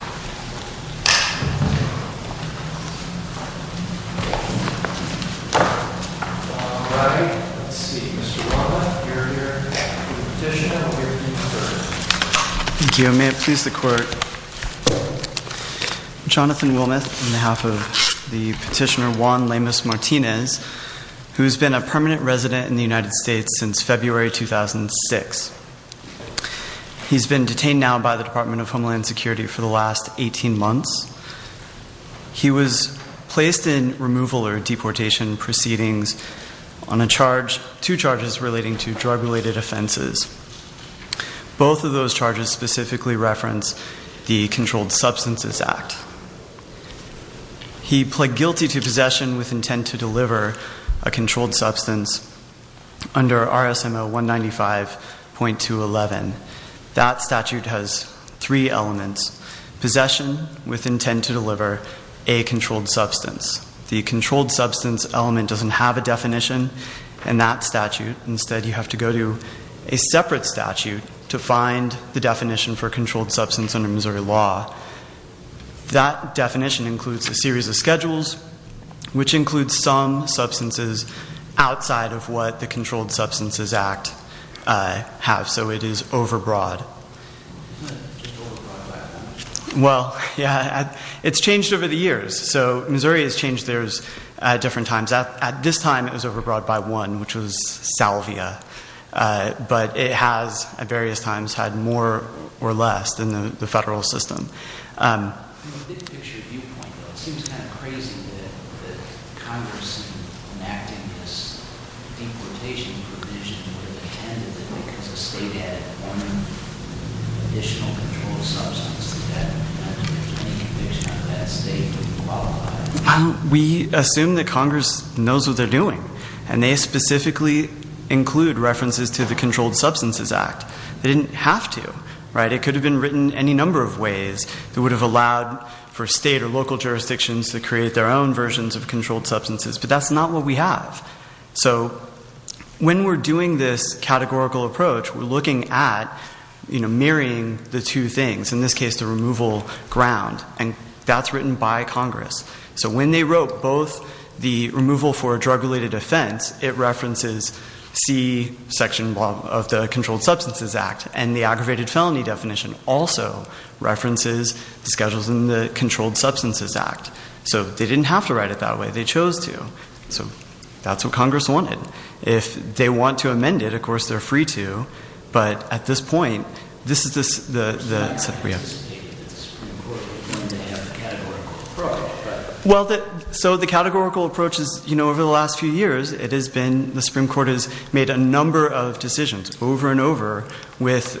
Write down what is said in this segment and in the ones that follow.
Petitioner, Juan Lemus Martinez, Permanent Resident, U.S. Department of Homeland Security, He was placed in removal or deportation proceedings on two charges relating to drug-related offenses. Both of those charges specifically reference the Controlled Substances Act. He pled guilty to possession with intent to deliver a controlled substance under RSMO 195.211. That statute has three elements, possession with intent to deliver a controlled substance. The controlled substance element doesn't have a definition in that statute. Instead, you have to go to a separate statute to find the definition for controlled substance under Missouri law. That definition includes a series of schedules, which includes some substances outside of what the Controlled Substances Act has. So it is overbroad. Well, yeah, it's changed over the years. So Missouri has changed theirs at different times. At this time, it was overbroad by one, which was salvia. But it has at various times had more or less than the federal system. From a big-picture viewpoint, though, it seems kind of crazy that Congress is enacting this deportation provision with a candidate because the state had one additional controlled substance. That definition of that state doesn't qualify. We assume that Congress knows what they're doing, and they specifically include references to the Controlled Substances Act. They didn't have to. It could have been written any number of ways that would have allowed for state or local jurisdictions to create their own versions of controlled substances. But that's not what we have. So when we're doing this categorical approach, we're looking at marrying the two things, in this case the removal ground. And that's written by Congress. So when they wrote both the removal for a drug-related offense, it references C section of the Controlled Substances Act. And the aggravated felony definition also references the schedules in the Controlled Substances Act. So they didn't have to write it that way. They chose to. So that's what Congress wanted. If they want to amend it, of course they're free to. But at this point, this is the... Well, so the categorical approach is, you know, over the last few years, it has been, the Supreme Court has made a number of decisions over and over with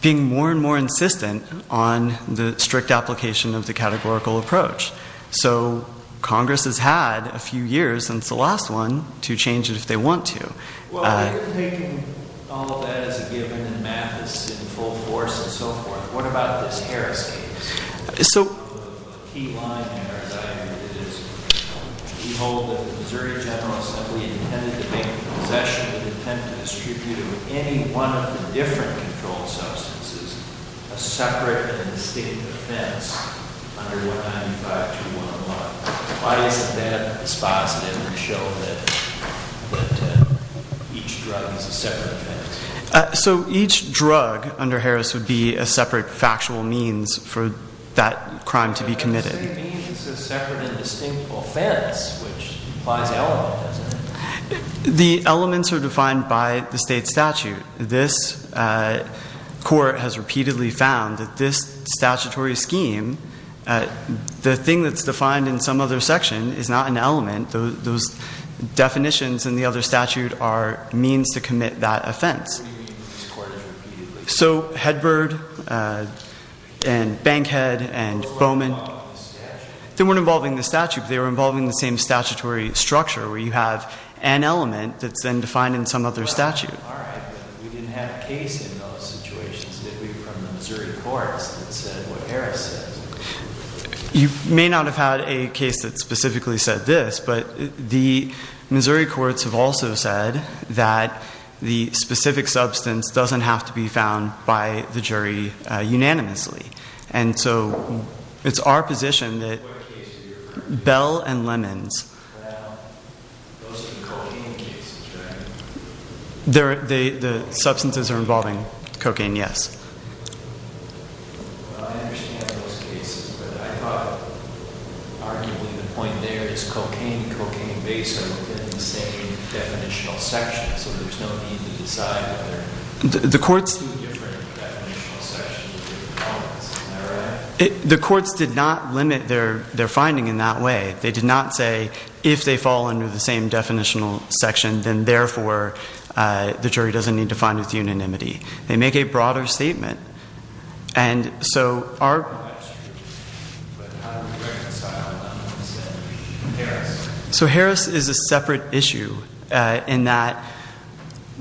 being more and more insistent on the strict application of the categorical approach. So Congress has had a few years since the last one to change it if they want to. Well, if you're taking all of that as a given and math is in full force and so forth, what about this Harris case? So... The key line there, as I read it, is, behold, the Missouri General Assembly intended to make a possession with intent to distribute to any one of the different controlled substances a separate and distinct offense under 195211. Why is that dispositive to show that each drug is a separate offense? So each drug under Harris would be a separate factual means for that crime to be committed. It's a separate and distinct offense, which implies element, doesn't it? The elements are defined by the state statute. This court has repeatedly found that this statutory scheme, the thing that's defined in some other section is not an element. Those definitions in the other statute are means to commit that offense. So Hedberd and Bankhead and Bowman, they weren't involving the statute, but they were involving the same statutory structure where you have an element that's then defined in some other statute. All right. We didn't have a case in those situations, did we, from the Missouri courts that said what Harris said? You may not have had a case that specifically said this, but the Missouri courts have also said that the specific substance doesn't have to be found by the jury unanimously. And so it's our position that... What case are you referring to? Bell and Lemons. Well, those can call any cases, right? The substances are involving cocaine, yes. Well, I understand those cases, but I thought arguably the point there is cocaine and cocaine based are within the same definitional section. So there's no need to decide whether... The courts... Two different definitional sections of the offense. Am I right? The courts did not limit their finding in that way. They did not say if they fall under the same definitional section, then, therefore, the jury doesn't need to find it with unanimity. They make a broader statement. And so our... So Harris is a separate issue in that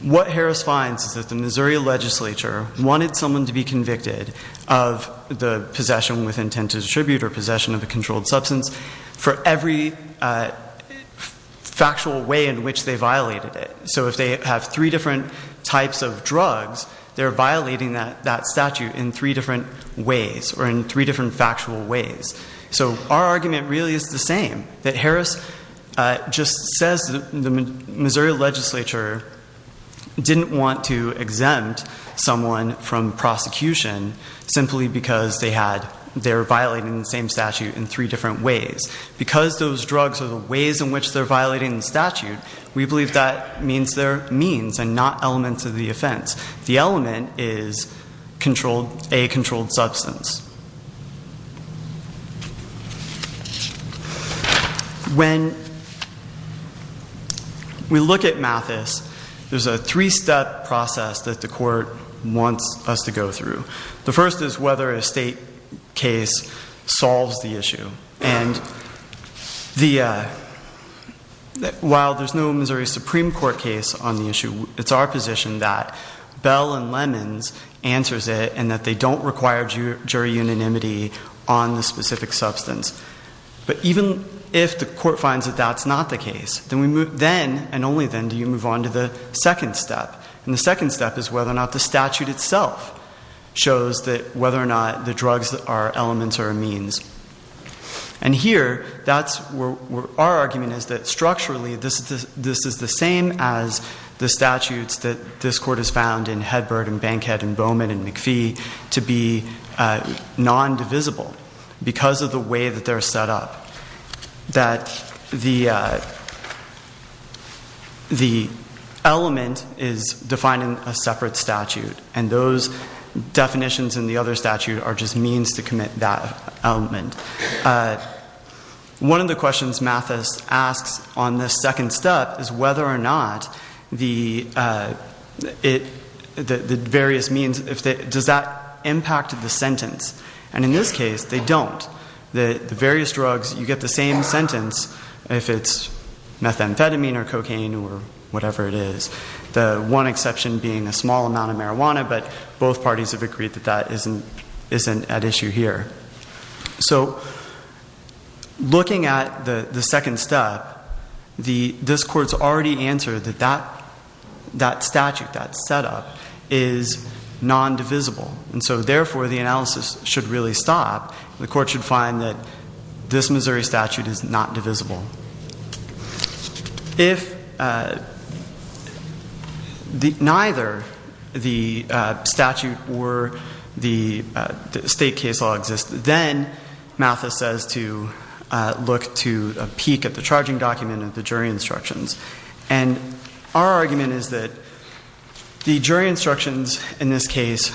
what Harris finds is that the Missouri legislature wanted someone to be convicted of the possession with intent to distribute or possession of a controlled substance for every factual way in which they violated it. So if they have three different types of drugs, they're violating that statute in three different ways or in three different factual ways. So our argument really is the same, that Harris just says the Missouri legislature didn't want to exempt someone from prosecution simply because they're violating the same statute in three different ways. Because those drugs are the ways in which they're violating the statute, we believe that means they're means and not elements of the offense. The element is a controlled substance. When we look at Mathis, there's a three-step process that the court wants us to go through. The first is whether a state case solves the issue. And while there's no Missouri Supreme Court case on the issue, it's our position that Bell and Lemons answers it and that they don't require jury unanimity on the specific substance. But even if the court finds that that's not the case, then and only then do you move on to the second step. And the second step is whether or not the statute itself shows that whether or not the drugs are elements or are means. And here, our argument is that structurally, this is the same as the statutes that this court has found in Hedbert and Bankhead and Bowman and McPhee to be non-divisible because of the way that they're set up. That the element is defined in a separate statute. And those definitions in the other statute are just means to commit that element. One of the questions Mathis asks on this second step is whether or not the various means, does that impact the sentence? And in this case, they don't. The various drugs, you get the same sentence if it's methamphetamine or cocaine or whatever it is. The one exception being a small amount of marijuana, but both parties have agreed that that isn't at issue here. So looking at the second step, this court's already answered that that statute, that setup, is non-divisible. And so therefore, the analysis should really stop. The court should find that this Missouri statute is not divisible. If neither the statute or the state case law exists, then Mathis says to look to a peek at the charging document and the jury instructions. And our argument is that the jury instructions in this case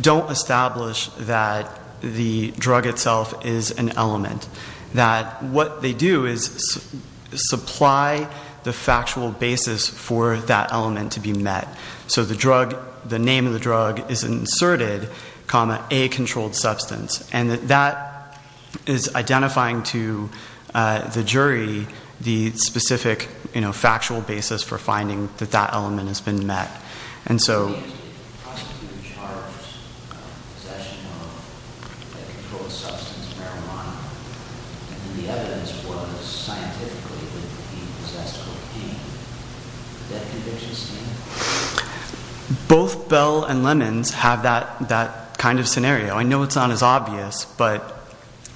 don't establish that the drug itself is an element. That what they do is supply the factual basis for that element to be met. So the name of the drug is inserted, comma, A controlled substance. And that is identifying to the jury the specific factual basis for finding that that element has been met. Both Bell and Lemons have that kind of scenario. I know it's not as obvious, but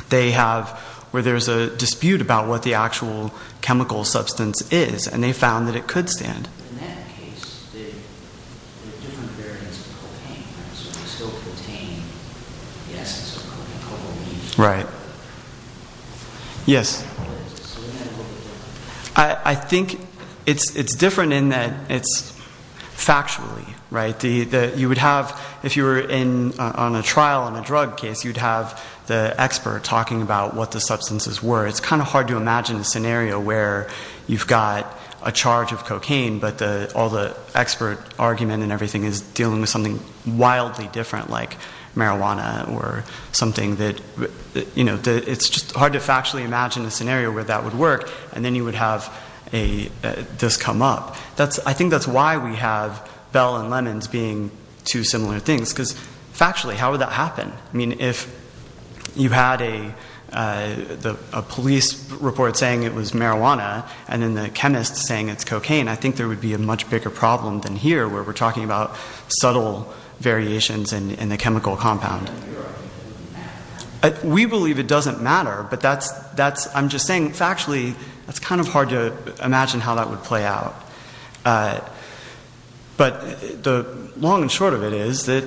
they have where there's a dispute about what the actual chemical substance is, and they found that it could stand. There are different variants of cocaine, right? So they still contain the essence of cocaine. Right. Yes. I think it's different in that it's factually, right? You would have, if you were on a trial on a drug case, you'd have the expert talking about what the substances were. It's kind of hard to imagine a scenario where you've got a charge of cocaine, but all the expert argument and everything is dealing with something wildly different, like marijuana or something. It's just hard to factually imagine a scenario where that would work, and then you would have this come up. I think that's why we have Bell and Lemons being two similar things, because factually, how would that happen? I mean, if you had a police report saying it was marijuana and then the chemist saying it's cocaine, I think there would be a much bigger problem than here where we're talking about subtle variations in the chemical compound. We believe it doesn't matter, but I'm just saying factually, it's kind of hard to imagine how that would play out. But the long and short of it is that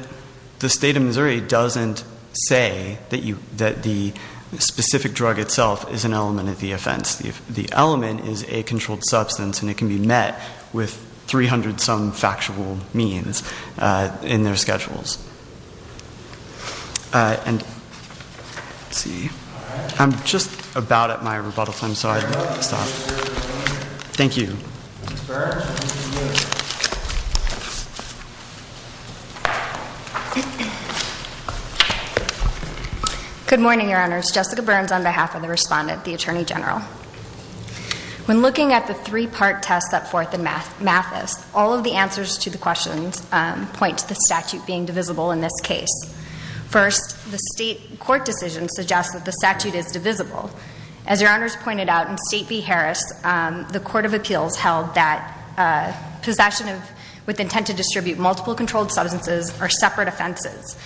the state of Missouri doesn't say that the specific drug itself is an element of the offense. The element is a controlled substance, and it can be met with 300-some factual means in their schedules. And let's see. I'm just about at my rebuttal time, so I don't want to stop. Thank you. Ms. Burns, you may begin. Good morning, Your Honors. Jessica Burns on behalf of the respondent, the Attorney General. When looking at the three-part test that Forth and Mathis, all of the answers to the questions point to the statute being divisible in this case. First, the state court decision suggests that the statute is divisible. As Your Honors pointed out, in State v. Harris, the court of appeals held that possession with intent to distribute multiple controlled substances are separate offenses.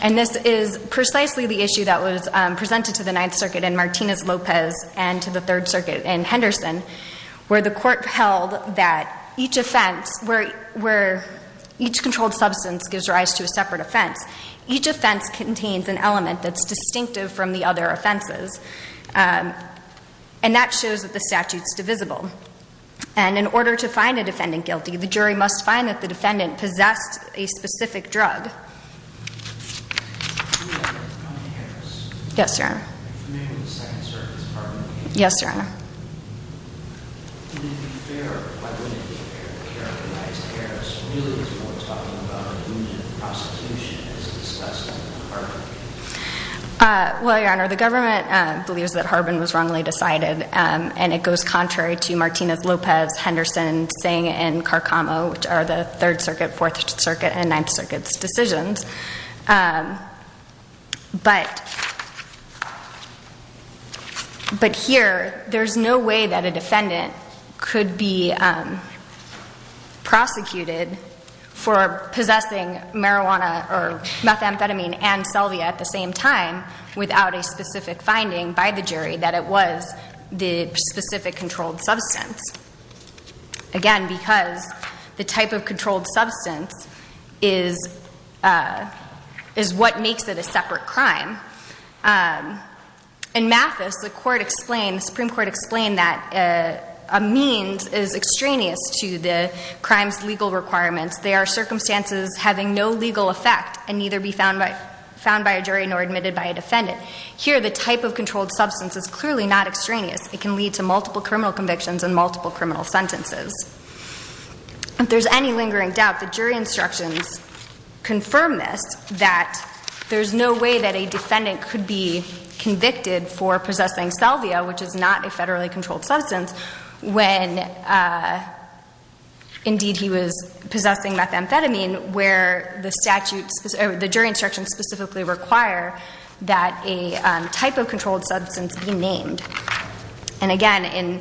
And this is precisely the issue that was presented to the Ninth Circuit in Martinez-Lopez and to the Third Circuit in Henderson, where the court held that each offense, where each controlled substance gives rise to a separate offense, each offense contains an element that's distinctive from the other offenses. And that shows that the statute's divisible. And in order to find a defendant guilty, the jury must find that the defendant possessed a specific drug. Yes, Your Honor. Yes, Your Honor. Well, Your Honor, the government believes that Harbin was wrongly decided. And it goes contrary to Martinez-Lopez, Henderson, Singh, and Carcamo, which are the Third Circuit, Fourth Circuit, and Ninth Circuit's decisions. But here, there's no way that a defendant could be prosecuted for possessing marijuana or methamphetamine and Selvia at the same time without a specific finding by the jury that it was the specific controlled substance. Again, because the type of controlled substance is what makes it a separate crime. In Mathis, the Supreme Court explained that a means is extraneous to the crime's legal requirements. They are circumstances having no legal effect and neither be found by a jury nor admitted by a defendant. Here, the type of controlled substance is clearly not extraneous. It can lead to multiple criminal convictions and multiple criminal sentences. If there's any lingering doubt, the jury instructions confirm this, that there's no way that a defendant could be convicted for possessing Selvia, which is not a federally controlled substance, when indeed he was possessing methamphetamine, where the jury instructions specifically require that a type of controlled substance be named. And again,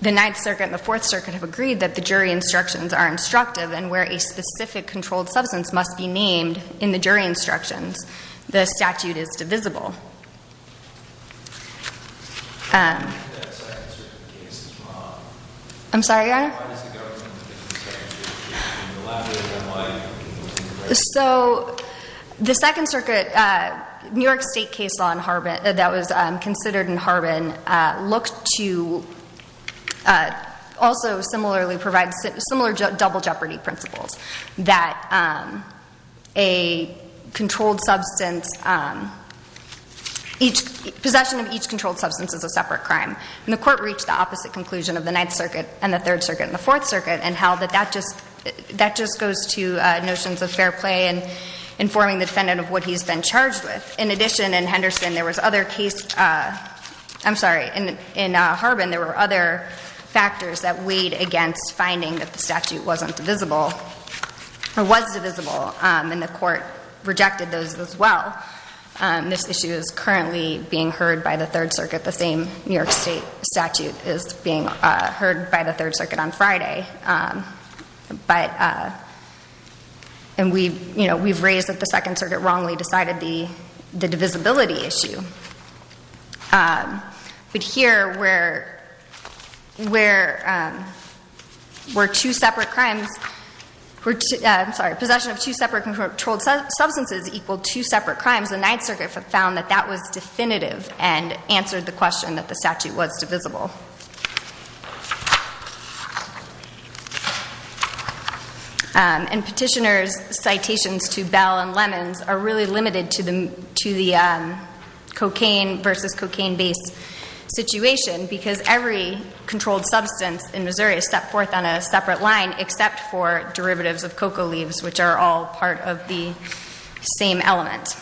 the Ninth Circuit and the Fourth Circuit have agreed that the jury instructions are instructive and where a specific controlled substance must be named in the jury instructions, the statute is divisible. I'm sorry, go ahead. So the Second Circuit, New York State case law that was considered in Harbin looked to also similarly provide similar double jeopardy principles. That a controlled substance, possession of each controlled substance is a separate crime. And the Court reached the opposite conclusion of the Ninth Circuit and the Third Circuit and the Fourth Circuit and held that that just goes to notions of fair play and informing the defendant of what he's been charged with. In addition, in Henderson, there was other case, I'm sorry, in Harbin, there were other factors that weighed against finding that the statute wasn't divisible, or was divisible. And the Court rejected those as well. This issue is currently being heard by the Third Circuit, the same New York State statute is being heard by the Third Circuit on Friday. And we've raised that the Second Circuit wrongly decided the divisibility issue. But here, where two separate crimes, I'm sorry, possession of two separate controlled substances equaled two separate crimes, the Ninth Circuit found that that was definitive and answered the question that the statute was divisible. And petitioners' citations to Bell and Lemons are really limited to the cocaine versus cocaine-based situation because every controlled substance in Missouri is set forth on a separate line except for derivatives of cocoa leaves, which are all part of the same element.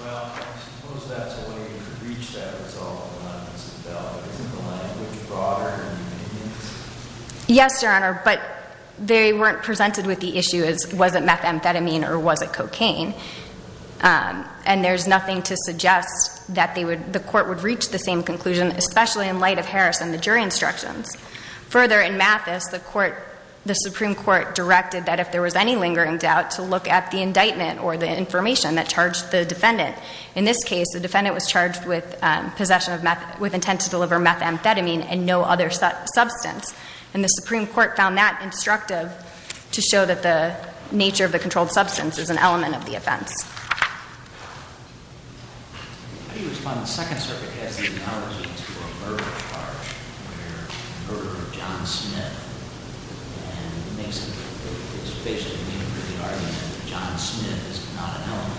Well, I suppose that's a way to reach that resolve in Memphis and Bell. But isn't the language broader in the opinions? Yes, Your Honor, but they weren't presented with the issue as, was it methamphetamine or was it cocaine? And there's nothing to suggest that the Court would reach the same conclusion, especially in light of Harris and the jury instructions. Further, in Mathis, the Supreme Court directed that if there was any lingering doubt, to look at the indictment or the information that charged the defendant. In this case, the defendant was charged with possession of, with intent to deliver methamphetamine and no other substance. And the Supreme Court found that instructive to show that the nature of the controlled substance is an element of the offense. How do you respond if the Second Circuit has the analogy to a murder charge where the murder of John Smith and it makes it, it's basically the argument that John Smith is not an element?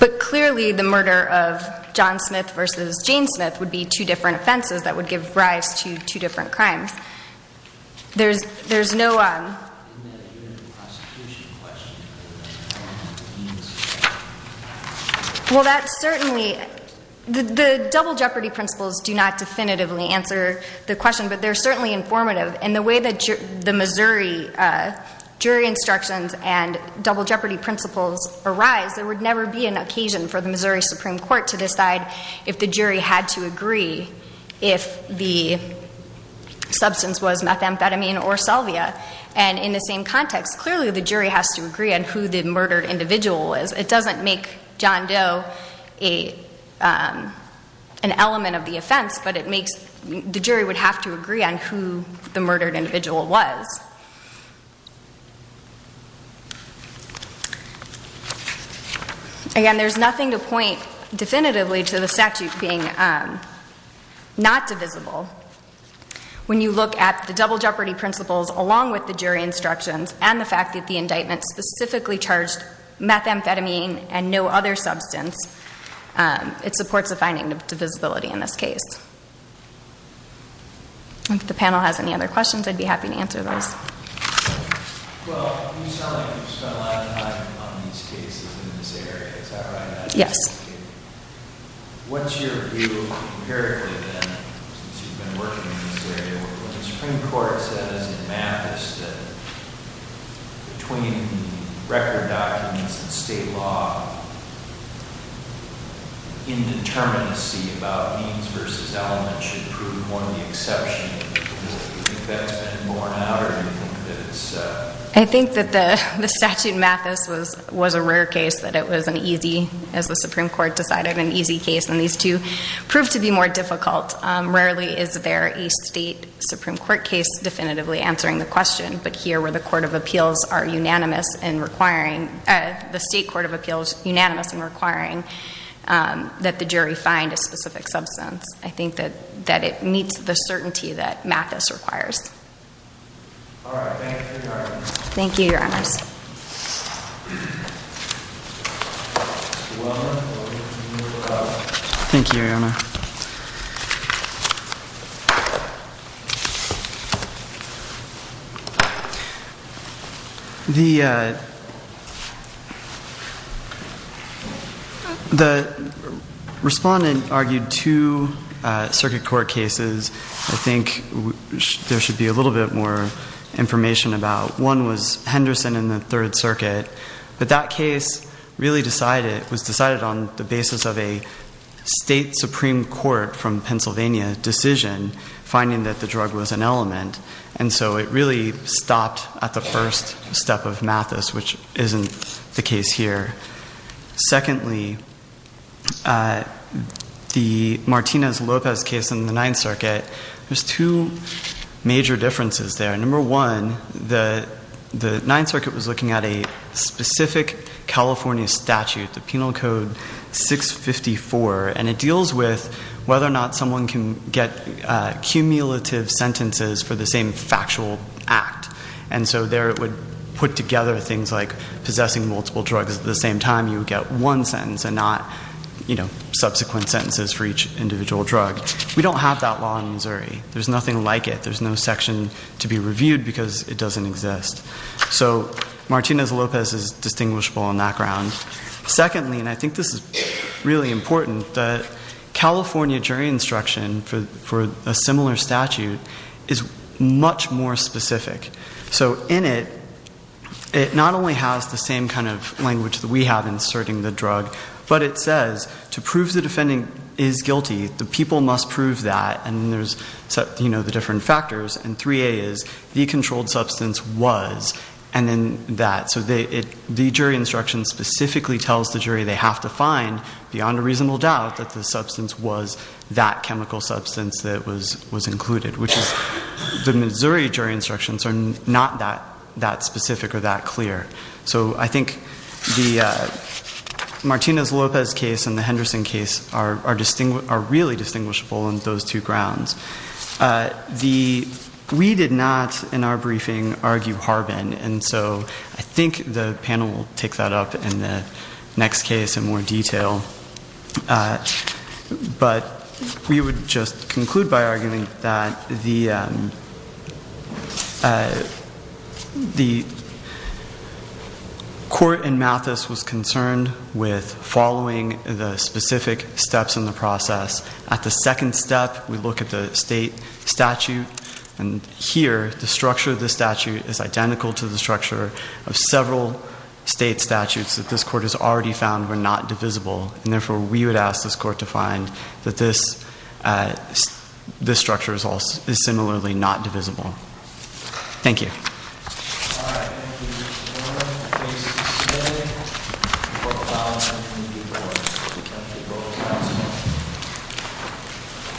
But clearly the murder of John Smith versus Jane Smith would be two different offenses that would give rise to two different crimes. There's, there's no... Well, that's certainly, the double jeopardy principles do not definitively answer the question, but they're certainly informative. And the way that the Missouri jury instructions and double jeopardy principles arise, there would never be an occasion for the Missouri Supreme Court to decide if the jury had to agree if the substance was methamphetamine or salvia. And in the same context, clearly the jury has to agree on who the murdered individual is. It doesn't make John Doe an element of the offense, but it makes, the jury would have to agree on who the murdered individual was. Again, there's nothing to point definitively to the statute being not divisible. When you look at the double jeopardy principles along with the jury instructions and the fact that the indictment specifically charged methamphetamine and no other substance, it supports a finding of divisibility in this case. If the panel has any other questions, I'd be happy to answer those. Yes. When the Supreme Court said, as in Mathis, that between record documents and state law, indeterminacy about means versus elements should prove one of the exceptions, do you think that's been borne out or do you think that it's... I think that the statute Mathis was a rare case that it was an easy, as the Supreme Court decided, an easy case and these two proved to be more difficult. Rarely is there a state Supreme Court case definitively answering the question, but here where the court of appeals are unanimous in requiring, the state court of appeals unanimous in requiring that the jury find a specific substance. I think that it meets the certainty that Mathis requires. All right, thank you, Your Honor. Thank you, Your Honors. Thank you, Your Honor. Thank you. The respondent argued two circuit court cases I think there should be a little bit more information about. One was Henderson in the Third Circuit, but that case really was decided on the basis of a state Supreme Court from Pennsylvania decision, finding that the drug was an element. And so it really stopped at the first step of Mathis, which isn't the case here. Secondly, the Martinez-Lopez case in the Ninth Circuit, there's two major differences there. Number one, the Ninth Circuit was looking at a specific California statute, the Penal Code 654, and it deals with whether or not someone can get cumulative sentences for the same factual act. And so there it would put together things like possessing multiple drugs at the same time. You would get one sentence and not subsequent sentences for each individual drug. We don't have that law in Missouri. There's nothing like it. There's no section to be reviewed because it doesn't exist. So Martinez-Lopez is distinguishable on that ground. Secondly, and I think this is really important, the California jury instruction for a similar statute is much more specific. So in it, it not only has the same kind of language that we have in asserting the drug, but it says to prove the defendant is guilty, the people must prove that. And there's the different factors. And 3A is the controlled substance was, and then that. So the jury instruction specifically tells the jury they have to find, beyond a reasonable doubt, that the substance was that chemical substance that was included, which is the Missouri jury instructions are not that specific or that clear. So I think the Martinez-Lopez case and the Henderson case are really distinguishable on those two grounds. We did not, in our briefing, argue Harbin. And so I think the panel will take that up in the next case in more detail. But we would just conclude by arguing that the court in Mathis was concerned with following the specific steps in the process. At the second step, we look at the state statute. And here, the structure of the statute is identical to the structure of several state statutes that this court has already found were not divisible. And therefore, we would ask this court to find that this structure is similarly not divisible. Thank you. All right. Thank you. The court is adjourned. The case is submitted. Court is now adjourned. Thank you. Court is adjourned.